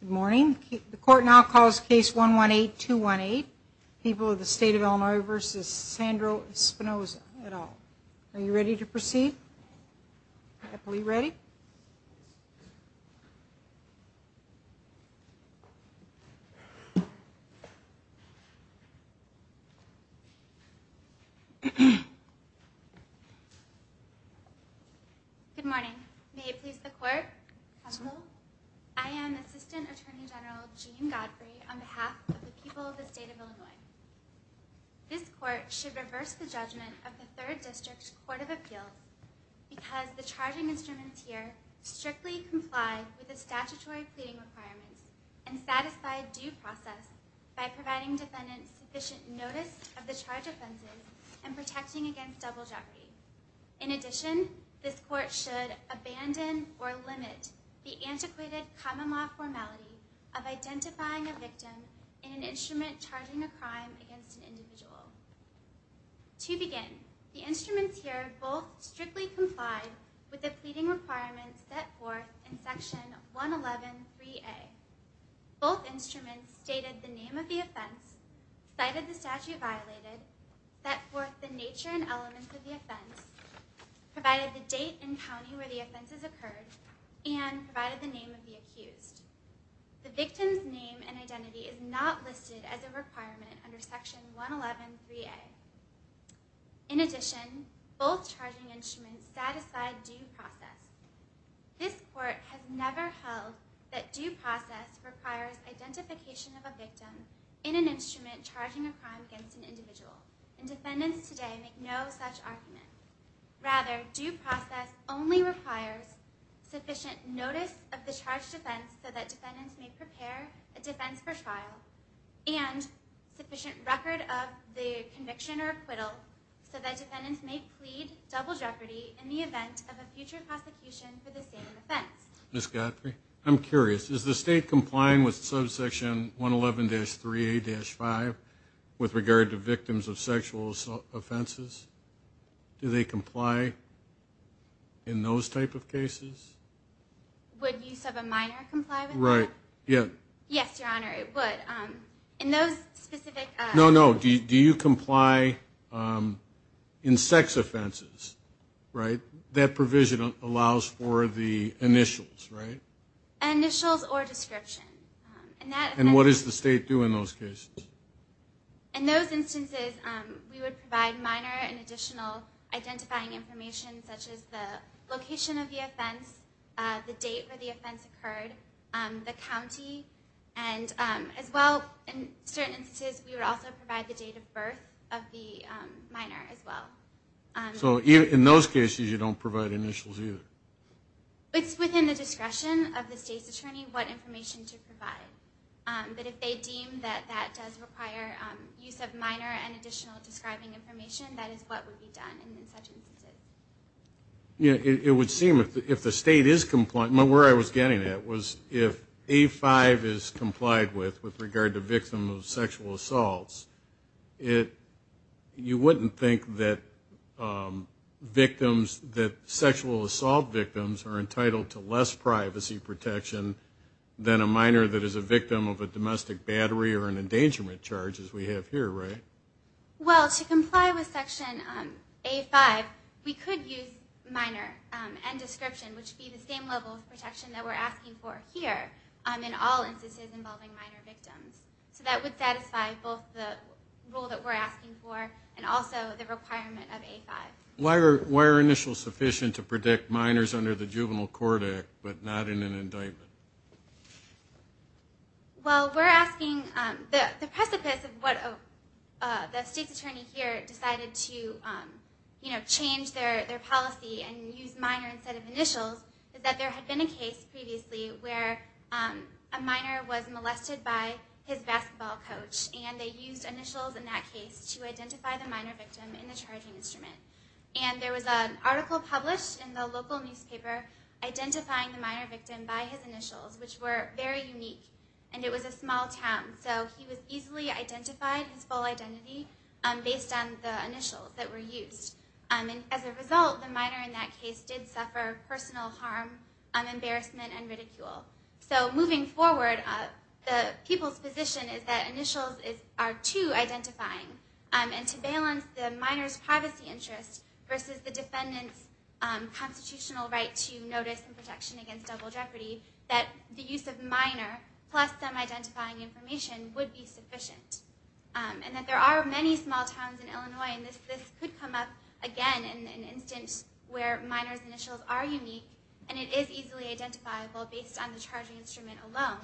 Good morning. The court now calls case 118-218. People of the state of Illinois v. Sandro Espinoza et al. Are you ready to proceed? Good morning. May it please the court. Counsel, I am Assistant Attorney General Jean Godfrey on behalf of the people of the state of Illinois. This court should reverse the judgment of the 3rd District Court of Appeals because the charging instruments here strictly comply with the statutory pleading requirements and satisfy due process by providing defendants sufficient notice of the charged offenses and protecting against double jeopardy. In addition, this court should abandon or limit the antiquated common law formality of identifying a victim in an instrument charging a crime against an individual. To begin, the instruments here both strictly comply with the pleading requirements set forth in Section 111.3a. Both instruments stated the name of the offense, cited the statute violated, set forth the nature and elements of the offense, provided the date and county where the offense occurred, and provided the name of the accused. The victim's name and identity is not listed as a requirement under Section 111.3a. In addition, both charging instruments satisfy due process. This court has never held that due process requires identification of a victim in an instrument charging a crime against an individual, and defendants today make no such argument. Rather, due process only requires sufficient notice of the charged offense so that defendants may prepare a defense for trial and sufficient record of the conviction or acquittal so that defendants may plead double jeopardy in the event of a future prosecution for the same offense. Ms. Godfrey? I'm curious. Is the state complying with Subsection 111-3a-5 with regard to victims of sexual offenses? Do they comply in those type of cases? Would use of a minor comply with that? Right. Yeah. Yes, Your Honor, it would. In those specific... No, no. Do you comply in sex offenses, right? That provision allows for the initials, right? Initials or description. And what does the state do in those cases? In those instances, we would provide minor an additional identifying information, such as the location of the offense, the date where the offense occurred, the county, and as well, in certain instances, we would also provide the date of birth of the minor as well. So in those cases, you don't provide initials either? It's within the discretion of the state's attorney what information to provide. But if they deem that that does require use of minor and additional describing information, that is what would be done in such instances. Yeah, it would seem if the state is compliant. Where I was getting at was if A-5 is complied with with regard to victims of sexual assaults, you wouldn't think that sexual assault victims are entitled to less privacy protection than a minor that is a victim of a domestic battery or an endangerment charge, as we have here, right? Well, to comply with Section A-5, we could use minor and description, which would be the same level of protection that we're asking for here in all instances involving minor victims. So that would satisfy both the rule that we're asking for and also the requirement of A-5. Why are initials sufficient to predict minors under the Juvenile Court Act but not in an indictment? Well, we're asking the precipice of what the state's attorney here decided to change their policy and use minor instead of initials is that there had been a case previously where a minor was molested by his basketball coach, and they used initials in that case to identify the minor victim in the charging instrument. And there was an article published in the local newspaper identifying the minor victim by his initials, which were very unique, and it was a small town. So he was easily identified, his full identity, based on the initials that were used. And as a result, the minor in that case did suffer personal harm, embarrassment, and ridicule. So moving forward, the people's position is that initials are too identifying. And to balance the minor's privacy interest versus the defendant's constitutional right to notice and protection against double jeopardy, that the use of minor plus some identifying information would be sufficient. And that there are many small towns in Illinois, and this could come up again in an instance where minor's initials are unique, and it is easily identifiable based on the charging instrument alone,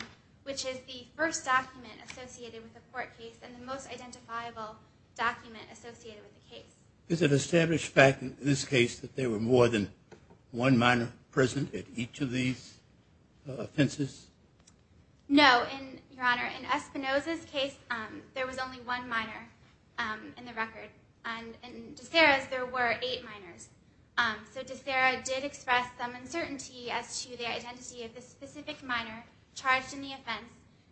which is the first document associated with the court case and the most identifiable document associated with the case. Is it established fact in this case that there were more than one minor present at each of these offenses? No, Your Honor. In Espinoza's case, there was only one minor in the record. And in DeSera's, there were eight minors. So DeSera did express some uncertainty as to the identity of the specific minor charged in the offense,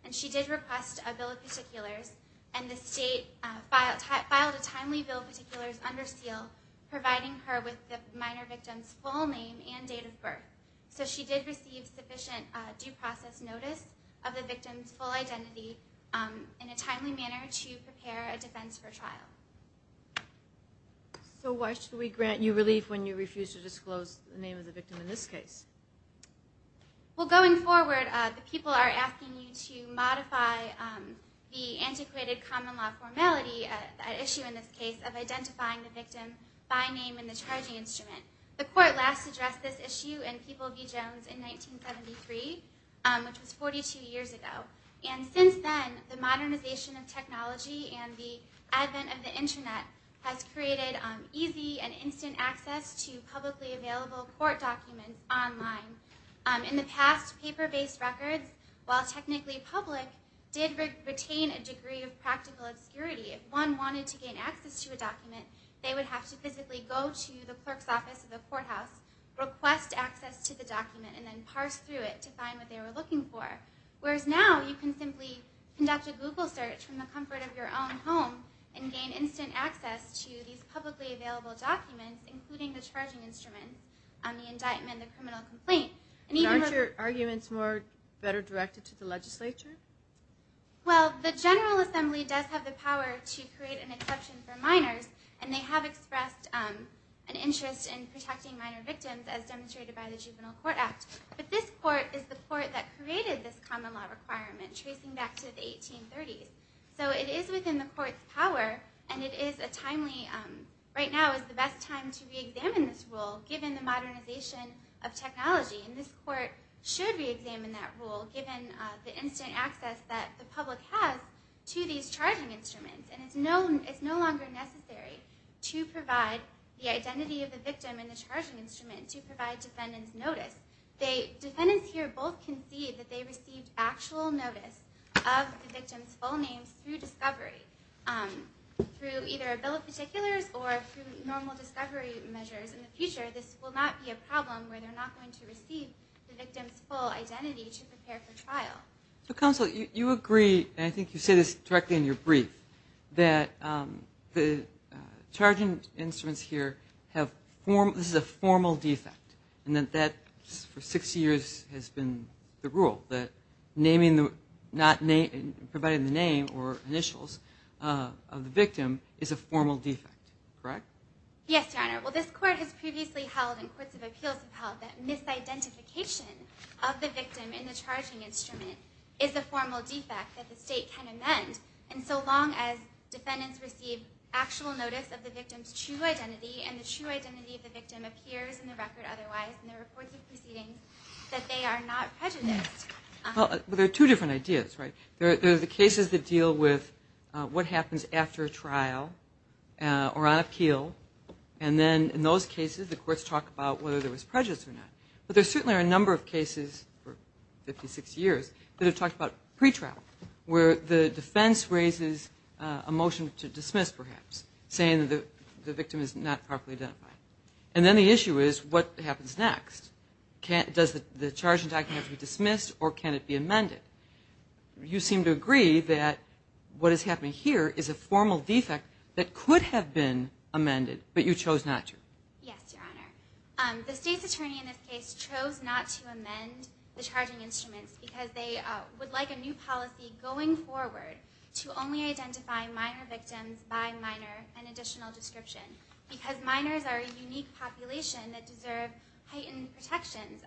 and she did request a bill of particulars. And the state filed a timely bill of particulars under seal, So she did receive sufficient due process notice of the victim's full identity in a timely manner to prepare a defense for trial. So why should we grant you relief when you refuse to disclose the name of the victim in this case? Well, going forward, the people are asking you to modify the antiquated common law formality, that issue in this case, of identifying the victim by name in the charging instrument. The court last addressed this issue in People v. Jones in 1973, which was 42 years ago. And since then, the modernization of technology and the advent of the Internet has created easy and instant access to publicly available court documents online. In the past, paper-based records, while technically public, did retain a degree of practical obscurity. If one wanted to gain access to a document, they would have to physically go to the clerk's office of the courthouse, request access to the document, and then parse through it to find what they were looking for. Whereas now, you can simply conduct a Google search from the comfort of your own home and gain instant access to these publicly available documents, including the charging instrument on the indictment and the criminal complaint. Aren't your arguments better directed to the legislature? Well, the General Assembly does have the power to create an exception for minors, and they have expressed an interest in protecting minor victims, as demonstrated by the Juvenile Court Act. But this court is the court that created this common law requirement, tracing back to the 1830s. So it is within the court's power, and it is a timely, right now is the best time to re-examine this rule, given the modernization of technology. And this court should re-examine that rule, given the instant access that the public has to these charging instruments. And it's no longer necessary to provide the identity of the victim in the charging instrument, to provide defendants notice. Defendants here both concede that they received actual notice of the victim's full name through discovery. Through either a bill of particulars or through normal discovery measures in the future, this will not be a problem where they're not going to receive the victim's full identity to prepare for trial. So Counsel, you agree, and I think you say this directly in your brief, that the charging instruments here, this is a formal defect, and that for 60 years has been the rule, that providing the name or initials of the victim is a formal defect, correct? Yes, Your Honor. Well, this court has previously held, and courts of appeals have held, that misidentification of the victim in the charging instrument is a formal defect that the state can amend. And so long as defendants receive actual notice of the victim's true identity, and the true identity of the victim appears in the record otherwise in the reports of proceedings, that they are not prejudiced. Well, there are two different ideas, right? There are the cases that deal with what happens after a trial or on appeal, and then in those cases the courts talk about whether there was prejudice or not. But there certainly are a number of cases for 50, 60 years that have talked about pretrial, where the defense raises a motion to dismiss, perhaps, saying that the victim is not properly identified. And then the issue is what happens next? Does the charging document have to be dismissed, or can it be amended? You seem to agree that what is happening here is a formal defect that could have been amended, but you chose not to. Yes, Your Honor. The state's attorney in this case chose not to amend the charging instruments because they would like a new policy going forward to only identify minor victims by minor, an additional description, because minors are a unique population that deserve heightened protections.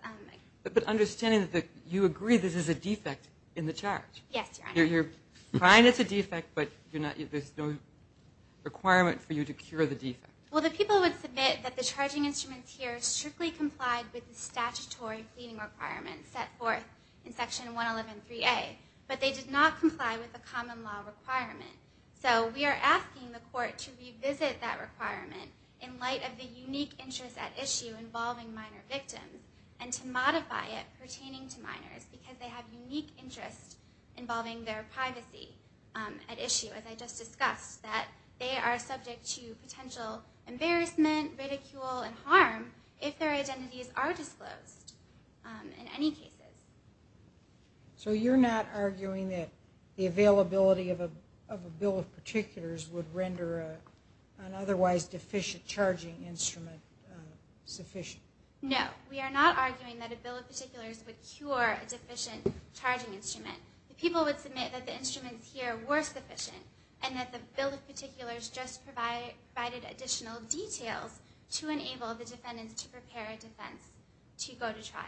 But understanding that you agree this is a defect in the charge. Yes, Your Honor. You're fine it's a defect, but there's no requirement for you to cure the defect. Well, the people would submit that the charging instruments here strictly complied with the statutory cleaning requirements set forth in Section 111.3a, but they did not comply with the common law requirement. So we are asking the court to revisit that requirement in light of the unique interest at issue involving minor victims and to modify it pertaining to minors because they have unique interests involving their privacy at issue, as I just discussed, that they are subject to potential embarrassment, ridicule, and harm if their identities are disclosed in any cases. So you're not arguing that the availability of a bill of particulars would render an otherwise deficient charging instrument sufficient? No. We are not arguing that a bill of particulars would cure a deficient charging instrument. The people would submit that the instruments here were sufficient and that the bill of particulars just provided additional details to enable the defendant to prepare a defense to go to trial.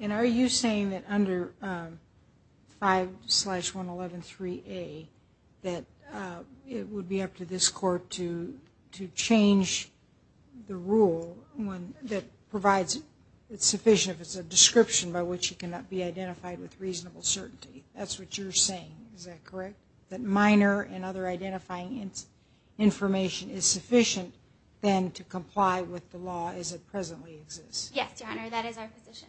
And are you saying that under 5-111.3a, that it would be up to this court to change the rule that provides it sufficient if it's a description by which it cannot be identified with reasonable certainty? That's what you're saying, is that correct? That minor and other identifying information is sufficient then to comply with the law as it presently exists? Yes, Your Honor, that is our position.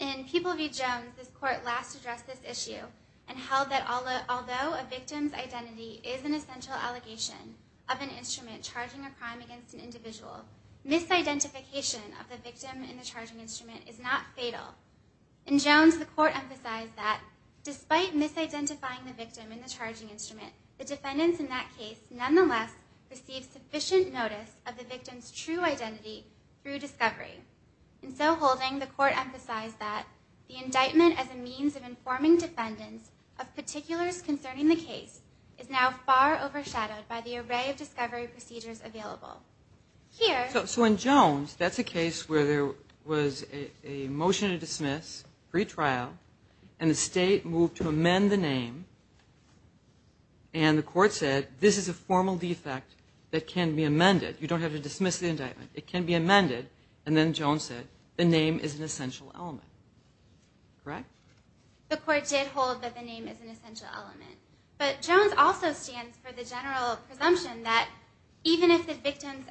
In People v. Jones, this court last addressed this issue and held that although a victim's identity is an essential allegation of an instrument charging a crime against an individual, misidentification of the victim in the charging instrument is not fatal. In Jones, the court emphasized that despite misidentifying the victim in the charging instrument, the defendants in that case nonetheless received sufficient notice of the victim's true identity through discovery. In so holding, the court emphasized that the indictment as a means of informing defendants of particulars concerning the case is now far overshadowed by the array of discovery procedures available. So in Jones, that's a case where there was a motion to dismiss, pre-trial, and the state moved to amend the name, and the court said this is a formal defect that can be amended. You don't have to dismiss the indictment. It can be amended, and then Jones said the name is an essential element. Correct? The court did hold that the name is an essential element, but Jones also stands for the general presumption that even if the victim's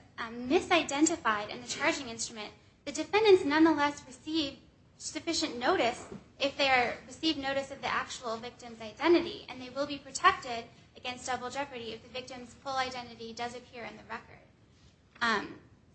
misidentified in the charging instrument, the defendants nonetheless receive sufficient notice if they receive notice of the actual victim's identity, and they will be protected against double jeopardy if the victim's full identity does appear in the record.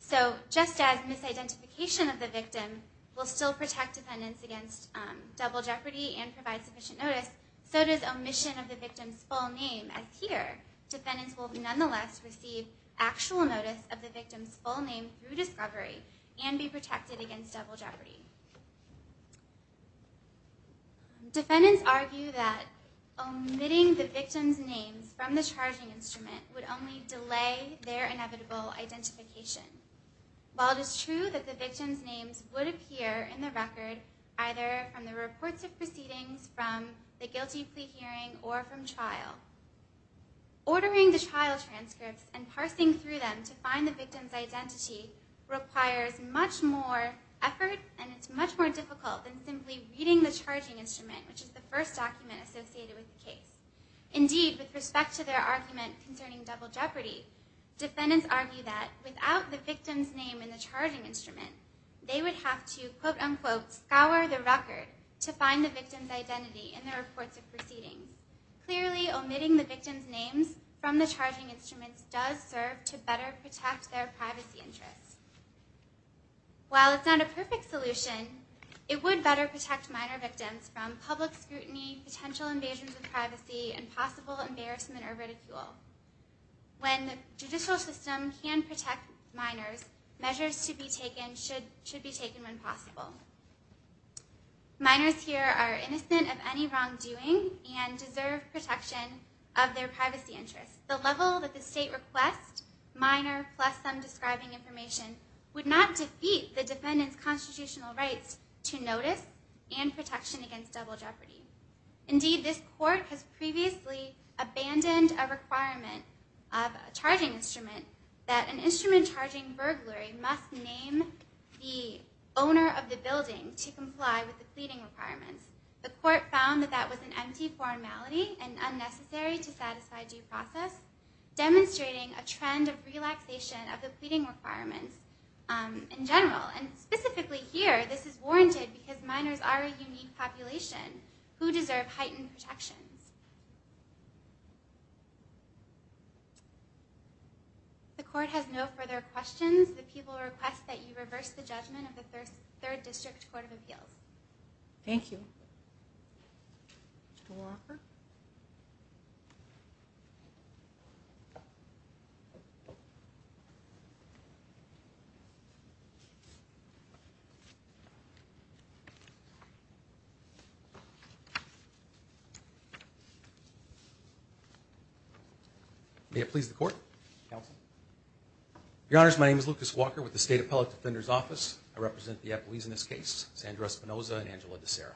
So just as misidentification of the victim will still protect defendants against double jeopardy and provide sufficient notice, so does omission of the victim's full name. As here, defendants will nonetheless receive actual notice of the victim's full name through discovery and be protected against double jeopardy. Defendants argue that omitting the victim's names from the charging instrument would only delay their inevitable identification. While it is true that the victim's names would appear in the record either from the reports of proceedings, from the guilty plea hearing, or from trial, ordering the trial transcripts and parsing through them to find the victim's identity requires much more effort, and it's much more difficult than simply reading the charging instrument, which is the first document associated with the case. Indeed, with respect to their argument concerning double jeopardy, defendants argue that without the victim's name in the charging instrument, they would have to quote-unquote scour the record to find the victim's identity in the reports of proceedings. Clearly, omitting the victim's names from the charging instruments does serve to better protect their privacy interests. While it's not a perfect solution, it would better protect minor victims from public scrutiny, potential invasions of privacy, and possible embarrassment or ridicule. When the judicial system can protect minors, measures to be taken should be taken when possible. Minors here are innocent of any wrongdoing and deserve protection of their privacy interests. The level that the state requests, minor plus some describing information, would not defeat the defendant's constitutional rights to notice and protection against double jeopardy. Indeed, this court has previously abandoned a requirement of a charging instrument that an instrument charging burglary must name the owner of the building to comply with the pleading requirements. The court found that that was an empty formality and unnecessary to satisfy due process, demonstrating a trend of relaxation of the pleading requirements in general. And specifically here, this is warranted because minors are a unique population who deserve heightened protections. If the court has no further questions, the people request that you reverse the judgment of the Third District Court of Appeals. Mr. Walker? May it please the court, counsel. Your Honors, my name is Lucas Walker with the State Appellate Defender's Office. I represent the appellees in this case, Sandra Espinoza and Angela DeSera.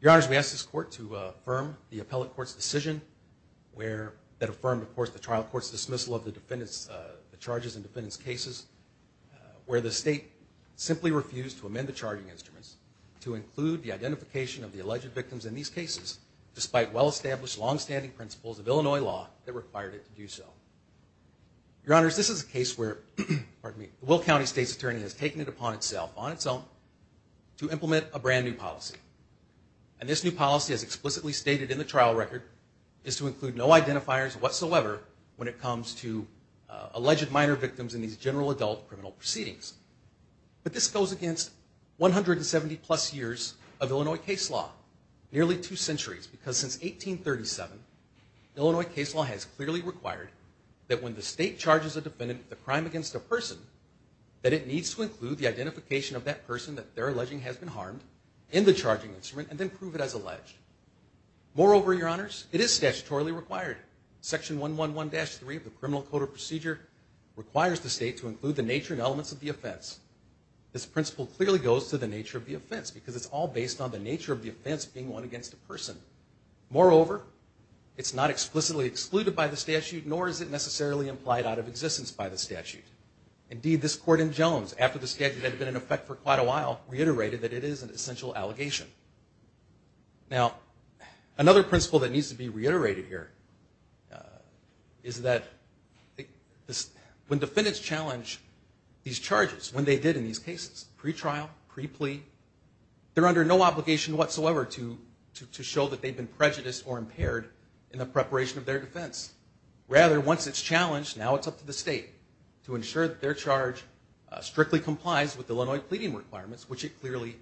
Your Honors, we ask this court to affirm the appellate court's decision that affirmed, of course, the trial court's dismissal of the charges in defendant's cases. where the state simply refused to amend the charging instruments to include the identification of the alleged victims in these cases, despite well-established, long-standing principles of Illinois law that required it to do so. Your Honors, this is a case where the Will County State's Attorney has taken it upon itself, on its own, to implement a brand new policy. And this new policy, as explicitly stated in the trial record, is to include no identifiers whatsoever when it comes to alleged minor victims in these general adult criminal proceedings. But this goes against 170-plus years of Illinois case law. Nearly two centuries, because since 1837, Illinois case law has clearly required that when the state charges a defendant with a crime against a person, that it needs to include the identification of that person that they're alleging has been harmed in the charging instrument, and then prove it as alleged. Moreover, Your Honors, it is statutorily required. Section 111-3 of the Criminal Code of Procedure requires the state to include the nature and elements of the offense. This principle clearly goes to the nature of the offense, because it's all based on the nature of the offense being won against a person. Moreover, it's not explicitly excluded by the statute, nor is it necessarily implied out of existence by the statute. Indeed, this court in Jones, after the statute had been in effect for quite a while, reiterated that it is an essential allegation. Now, another principle that needs to be reiterated here is that when defendants challenge these charges, when they did in these cases, pretrial, pre-plea, they're under no obligation whatsoever to show that they've been prejudiced or impaired in the preparation of their defense. Rather, once it's challenged, now it's up to the state to ensure that their charge strictly complies with Illinois pleading requirements, which it clearly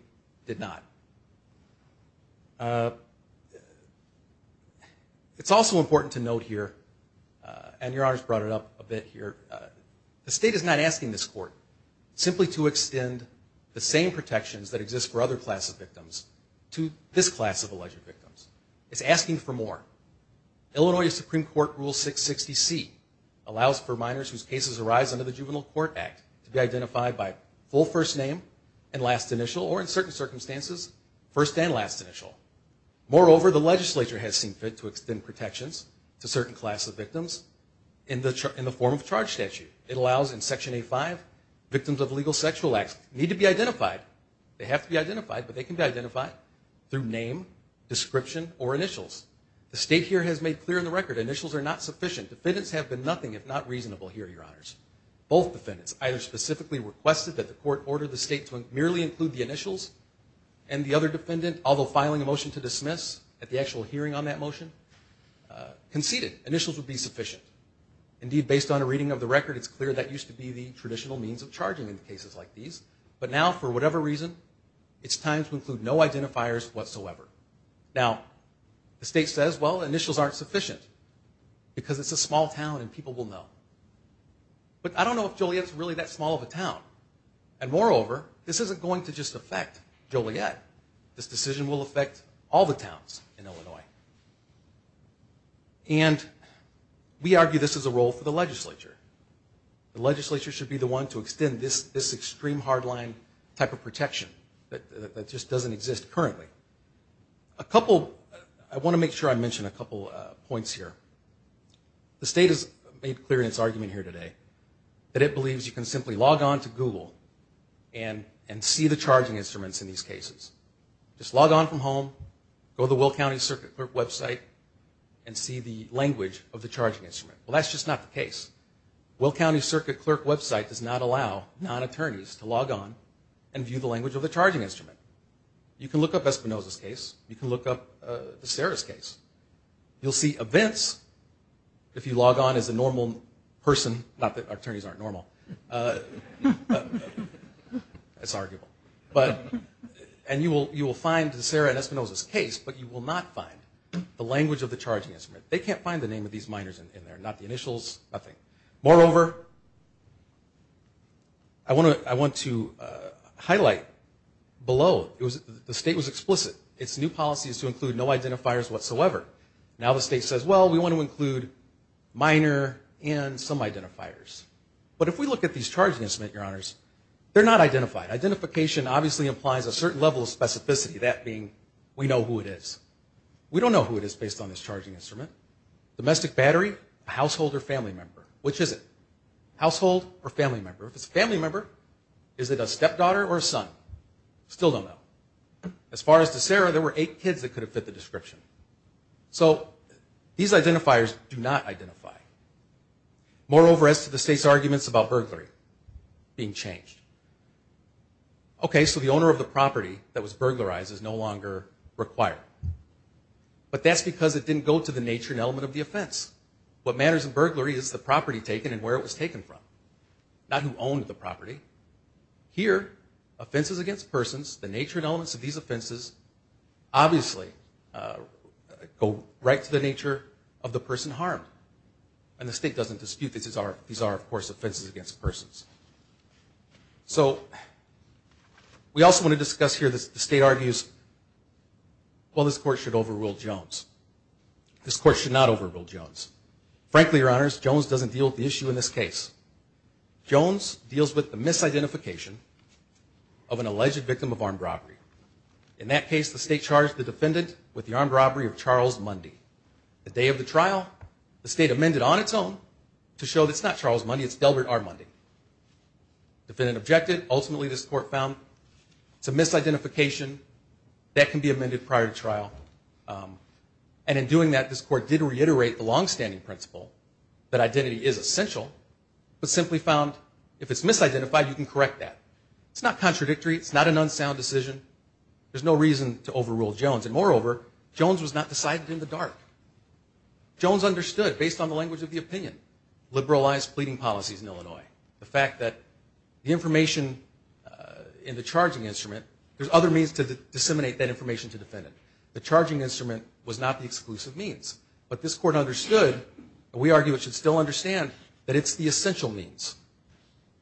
did not. It's also important to note here, and Your Honors brought it up a bit here, the state is not asking this court simply to extend the same protections that exist for other classes of victims to this class of alleged victims. It's asking for more. Illinois Supreme Court Rule 660C allows for minors whose cases arise under the Juvenile Court Act to be identified by full first name and last initial, or in certain circumstances, first and last initial. Moreover, the legislature has seen fit to extend protections to certain classes of victims in the form of charge statute. It allows in Section A5, victims of illegal sexual acts need to be identified. They have to be identified, but they can be identified through name, description, or initials. The state here has made clear on the record, initials are not sufficient. Defendants have been nothing if not reasonable here, Your Honors. Both defendants either specifically requested that the court order the state to merely include the initials, and the other defendant, although filing a motion to dismiss at the actual hearing on that motion, conceded initials would be sufficient. Indeed, based on a reading of the record, it's clear that used to be the traditional means of charging in cases like these. But now, for whatever reason, it's time to include no identifiers whatsoever. Now, the state says, well, initials aren't sufficient, because it's a small town and people will know. But I don't know if Joliet's really that small of a town. And moreover, this isn't going to just affect Joliet. This decision will affect all the towns in Illinois. And we argue this is a role for the legislature. The legislature should be the one to extend this extreme hardline type of protection that just doesn't exist currently. A couple, I want to make sure I mention a couple points here. The state has made clear in its argument here today that it believes you can simply log on to Google and see the charging instruments in these cases. Just log on from home, go to the Will County Circuit Clerk website, and see the language of the charging instrument. Well, that's just not the case. Will County Circuit Clerk website does not allow non-attorneys to log on and view the language of the charging instrument. You can look up Espinoza's case. You can look up DeSera's case. You'll see events if you log on as a normal person. Not that attorneys aren't normal. It's arguable. And you will find DeSera and Espinoza's case, but you will not find the language of the charging instrument. They can't find the name of these minors in there, not the initials, nothing. Moreover, I want to highlight below, the state was explicit. Its new policy is to include no identifiers whatsoever. Now the state says, well, we want to include minor and some identifiers. But if we look at these charging instruments, Your Honors, they're not identified. Identification obviously implies a certain level of specificity, that being we know who it is. We don't know who it is based on this charging instrument. Domestic battery, household or family member. Which is it? Household or family member? If it's a family member, is it a stepdaughter or a son? Still don't know. As far as DeSera, there were eight kids that could have fit the description. So these identifiers do not identify. Moreover, as to the state's arguments about burglary being changed. Okay, so the owner of the property that was burglarized is no longer required. But that's because it didn't go to the nature and element of the offense. What matters in burglary is the property taken and where it was taken from. Not who owned the property. Here, offenses against persons, the nature and elements of these offenses, obviously go right to the nature of the person harmed. And the state doesn't dispute these are, of course, offenses against persons. So we also want to discuss here the state argues, well, this court should overrule Jones. This court should not overrule Jones. Frankly, your honors, Jones doesn't deal with the issue in this case. Jones deals with the misidentification of an alleged victim of armed robbery. In that case, the state charged the defendant with the armed robbery of Charles Mundy. The day of the trial, the state amended on its own to show that it's not Charles Mundy, it's Delbert R. Mundy. Defendant objected. Ultimately, this court found it's a misidentification that can be amended prior to trial. And in doing that, this court did reiterate the longstanding principle that identity is essential, but simply found if it's misidentified, you can correct that. It's not contradictory. It's not an unsound decision. There's no reason to overrule Jones. And moreover, Jones was not decided in the dark. Jones understood, based on the language of the opinion, liberalized pleading policies in Illinois, the fact that the information in the charging instrument, there's other means to disseminate that information to the defendant. The charging instrument was not the exclusive means. But this court understood, and we argue it should still understand, that it's the essential means.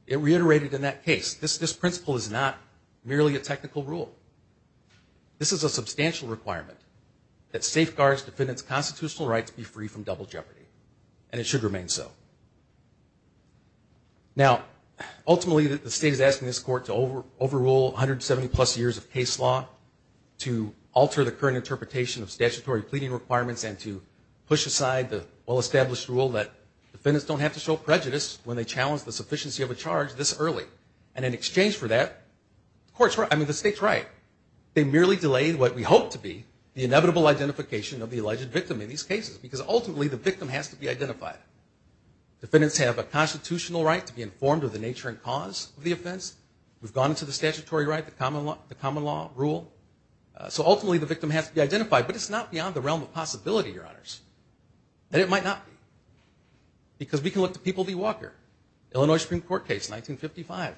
It reiterated in that case, this principle is not merely a technical rule. This is a substantial requirement that safeguards defendants' constitutional rights be free from double jeopardy. And it should remain so. Now, ultimately, the state is asking this court to overrule 170-plus years of case law, to alter the current interpretation of statutory pleading requirements, and to push aside the well-established rule that defendants don't have to show prejudice when they challenge the sufficiency of a charge this early. And in exchange for that, the state's right. They merely delayed what we hope to be the inevitable identification of the alleged victim in these cases. Because ultimately, the victim has to be identified. Defendants have a constitutional right to be informed of the nature and cause of the offense. We've gone into the statutory right, the common law rule. So ultimately, the victim has to be identified. But it's not beyond the realm of possibility, Your Honors, that it might not be. Because we can look to People v. Walker, Illinois Supreme Court case, 1955,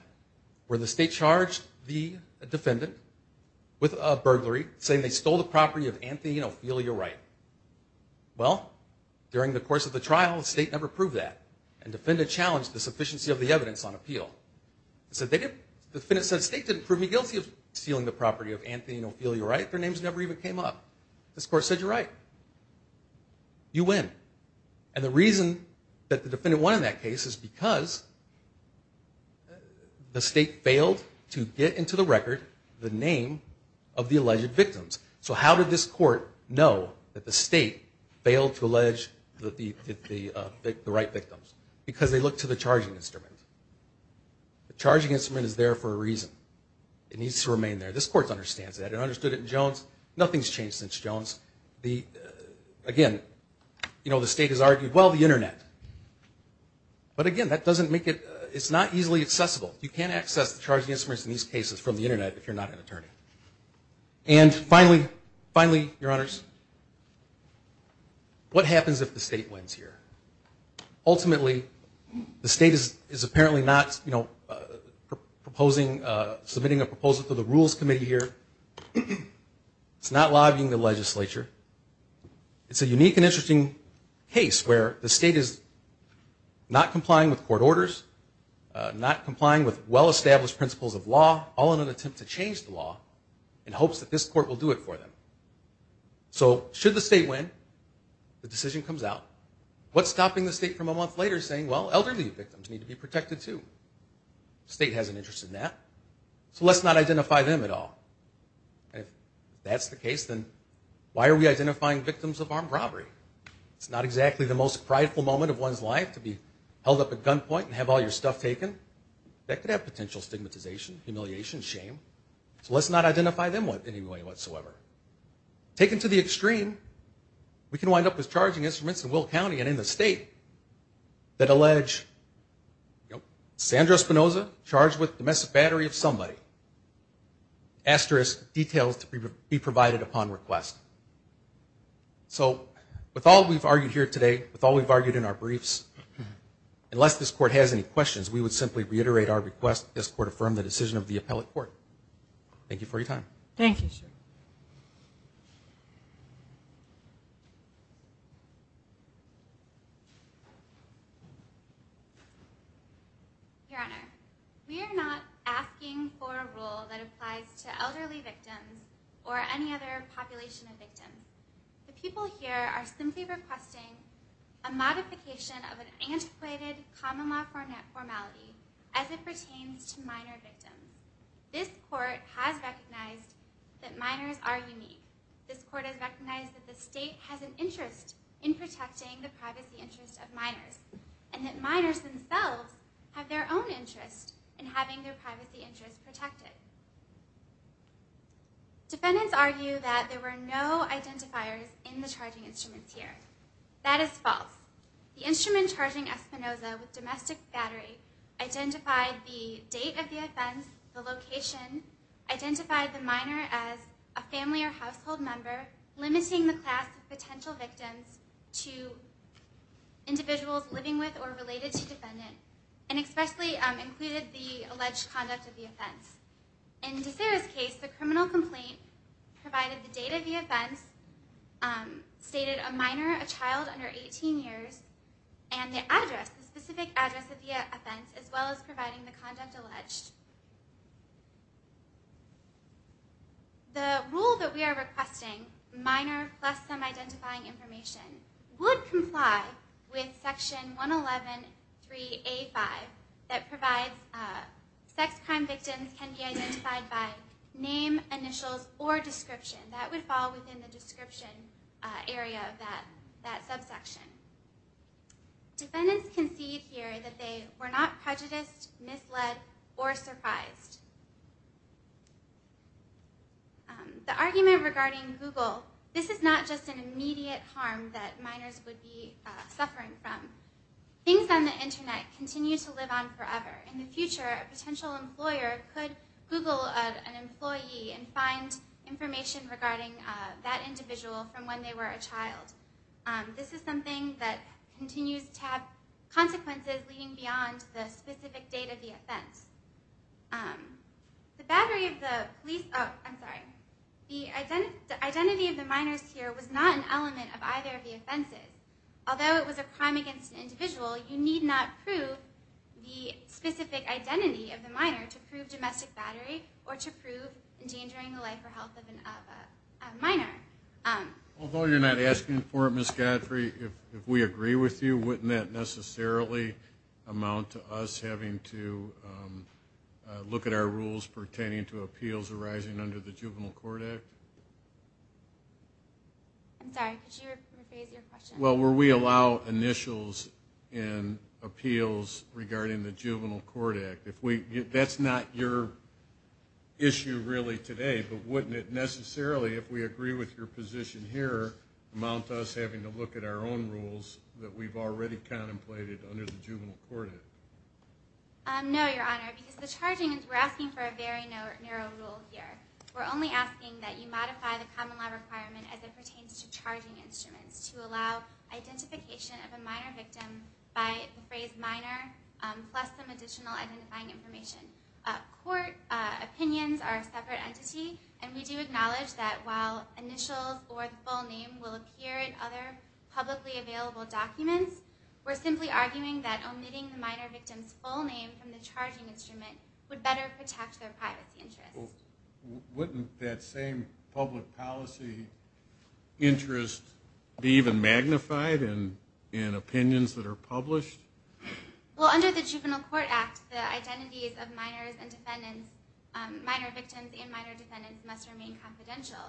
where the state charged the defendant with burglary, saying they stole the property of Anthony and Ophelia Wright. Well, during the course of the trial, the state never proved that. And defendants challenged the sufficiency of the evidence on appeal. The defendant said, State didn't prove me guilty of stealing the property of Anthony and Ophelia Wright. Their names never even came up. This court said, You're right. You win. And the reason that the defendant won in that case is because the state failed to get into the record the name of the alleged victims. So how did this court know that the state failed to allege the Wright victims? Because they looked to the charging instrument. The charging instrument is there for a reason. It needs to remain there. This court understands that. It understood it in Jones. Nothing's changed since Jones. Again, you know, the state has argued, Well, the Internet. But, again, that doesn't make it, it's not easily accessible. You can't access the charging instruments in these cases from the Internet if you're not an attorney. And finally, finally, Your Honors, what happens if the state wins here? Ultimately, the state is apparently not, you know, proposing, submitting a proposal to the Rules Committee here. It's not lobbying the legislature. It's a unique and interesting case where the state is not complying with court orders, not complying with well-established principles of law, all in an attempt to change the law in hopes that this court will do it for them. So should the state win, the decision comes out. What's stopping the state from a month later saying, Well, elderly victims need to be protected too? The state has an interest in that. So let's not identify them at all. If that's the case, then why are we identifying victims of armed robbery? It's not exactly the most prideful moment of one's life to be held up at gunpoint and have all your stuff taken. That could have potential stigmatization, humiliation, shame. So let's not identify them in any way whatsoever. Taken to the extreme, we can wind up with charging instruments in Will County and in the state that allege Sandra Spinoza charged with domestic battery of somebody. Asterisk, details to be provided upon request. So with all we've argued here today, with all we've argued in our briefs, unless this court has any questions, we would simply reiterate our request that this court affirm the decision of the appellate court. Thank you for your time. Thank you, sir. Your Honor, we are not asking for a rule that applies to elderly victims or any other population of victims. The people here are simply requesting a modification of an antiquated common law formality as it pertains to minor victims. This court has recognized that minors are unique. This court has recognized that the state has an interest in protecting the privacy interests of minors and that minors themselves have their own interest in having their privacy interests protected. Defendants argue that there were no identifiers in the charging instruments here. That is false. The instrument charging Spinoza with domestic battery identified the date of the offense, the location, identified the minor as a family or household member, limiting the class of potential victims to individuals living with or related to defendants, and especially included the alleged conduct of the offense. In DeSera's case, the criminal complaint provided the date of the offense, stated a minor, a child under 18 years, and the address, the specific address of the offense, as well as providing the conduct alleged. The rule that we are requesting, minor plus some identifying information, would comply with Section 111.3.A.5 that provides sex crime victims can be identified by name, initials, or description. That would fall within the description area of that subsection. Defendants concede here that they were not prejudiced, misled, or surprised. The argument regarding Google, this is not just an immediate harm that minors would be suffering from. Things on the Internet continue to live on forever. In the future, a potential employer could Google an employee and find information regarding that individual from when they were a child. This is something that continues to have consequences leading beyond the specific date of the offense. The identity of the minors here was not an element of either of the offenses. Although it was a crime against an individual, you need not prove the specific identity of the minor to prove domestic battery or to prove endangering the life or health of a minor. Although you're not asking for it, Ms. Godfrey, if we agree with you, wouldn't that necessarily amount to us having to look at our rules pertaining to appeals arising under the Juvenile Court Act? I'm sorry, could you rephrase your question? Well, will we allow initials in appeals regarding the Juvenile Court Act? That's not your issue really today, but wouldn't it necessarily, if we agree with your position here, amount to us having to look at our own rules that we've already contemplated under the Juvenile Court Act? No, Your Honor, because we're asking for a very narrow rule here. We're only asking that you modify the common law requirement as it pertains to charging instruments to allow identification of a minor victim by the phrase minor plus some additional identifying information. Court opinions are a separate entity, and we do acknowledge that while initials or the full name will appear in other publicly available documents, we're simply arguing that omitting the minor victim's full name from the charging instrument would better protect their privacy interests. Wouldn't that same public policy interest be even magnified in opinions that are published? Well, under the Juvenile Court Act, the identities of minors and defendants, minor victims and minor defendants, must remain confidential.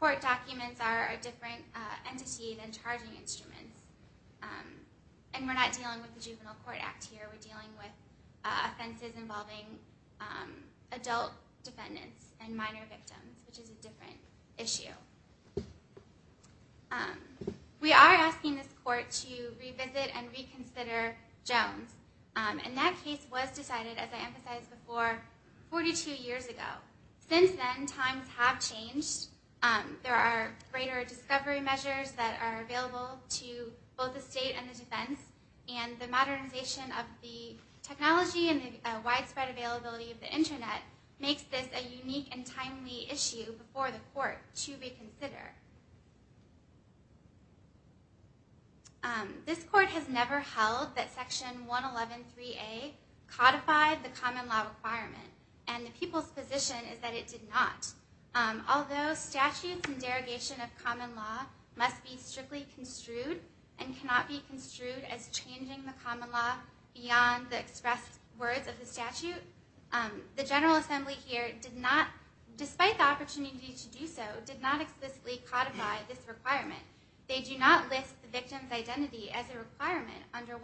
Court documents are a different entity than charging instruments, and we're not dealing with the Juvenile Court Act here. We're dealing with offenses involving adult defendants and minor victims, which is a different issue. We are asking this court to revisit and reconsider Jones. And that case was decided, as I emphasized before, 42 years ago. Since then, times have changed. There are greater discovery measures that are available to both the state and the defense, and the modernization of the technology and the widespread availability of the Internet makes this a unique and timely issue before the court to reconsider. This court has never held that Section 111.3a codified the common law requirement, and the people's position is that it did not. Although statutes and derogation of common law must be strictly construed and cannot be construed as changing the common law beyond the expressed words of the statute, the General Assembly here, despite the opportunity to do so, did not explicitly codify this requirement. They do not list the victim's identity as a requirement under 111.3a.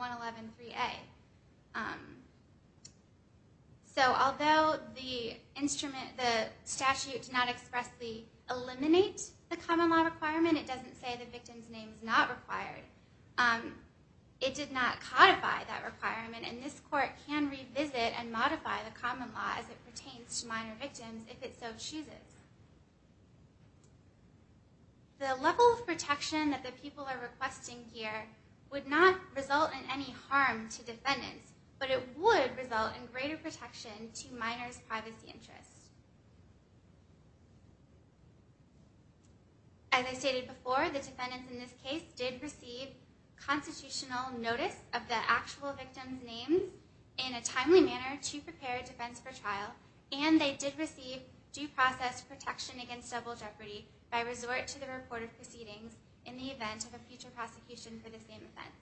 So although the statute does not expressly eliminate the common law requirement, it doesn't say the victim's name is not required, it did not codify that requirement, and this court can revisit and modify the common law as it pertains to minor victims if it so chooses. The level of protection that the people are requesting here would not result in any harm to defendants, but it would result in greater protection to minors' privacy interests. As I stated before, the defendants in this case did receive constitutional notice of the actual victim's name in a timely manner to prepare defense for trial, and they did receive due process protection against double jeopardy by resort to the reported proceedings in the event of a future prosecution for the same offense.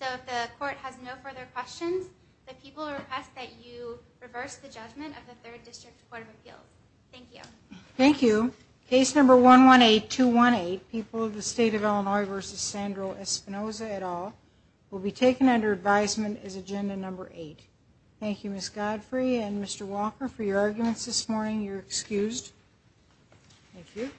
So if the court has no further questions, the people request that you reverse the judgment of the Third District Court of Appeals. Thank you. Thank you. Case number 118218, People of the State of Illinois v. Sandro Espinoza et al., will be taken under advisement as agenda number eight. Thank you, Ms. Godfrey and Mr. Walker, for your arguments this morning. You're excused. Thank you.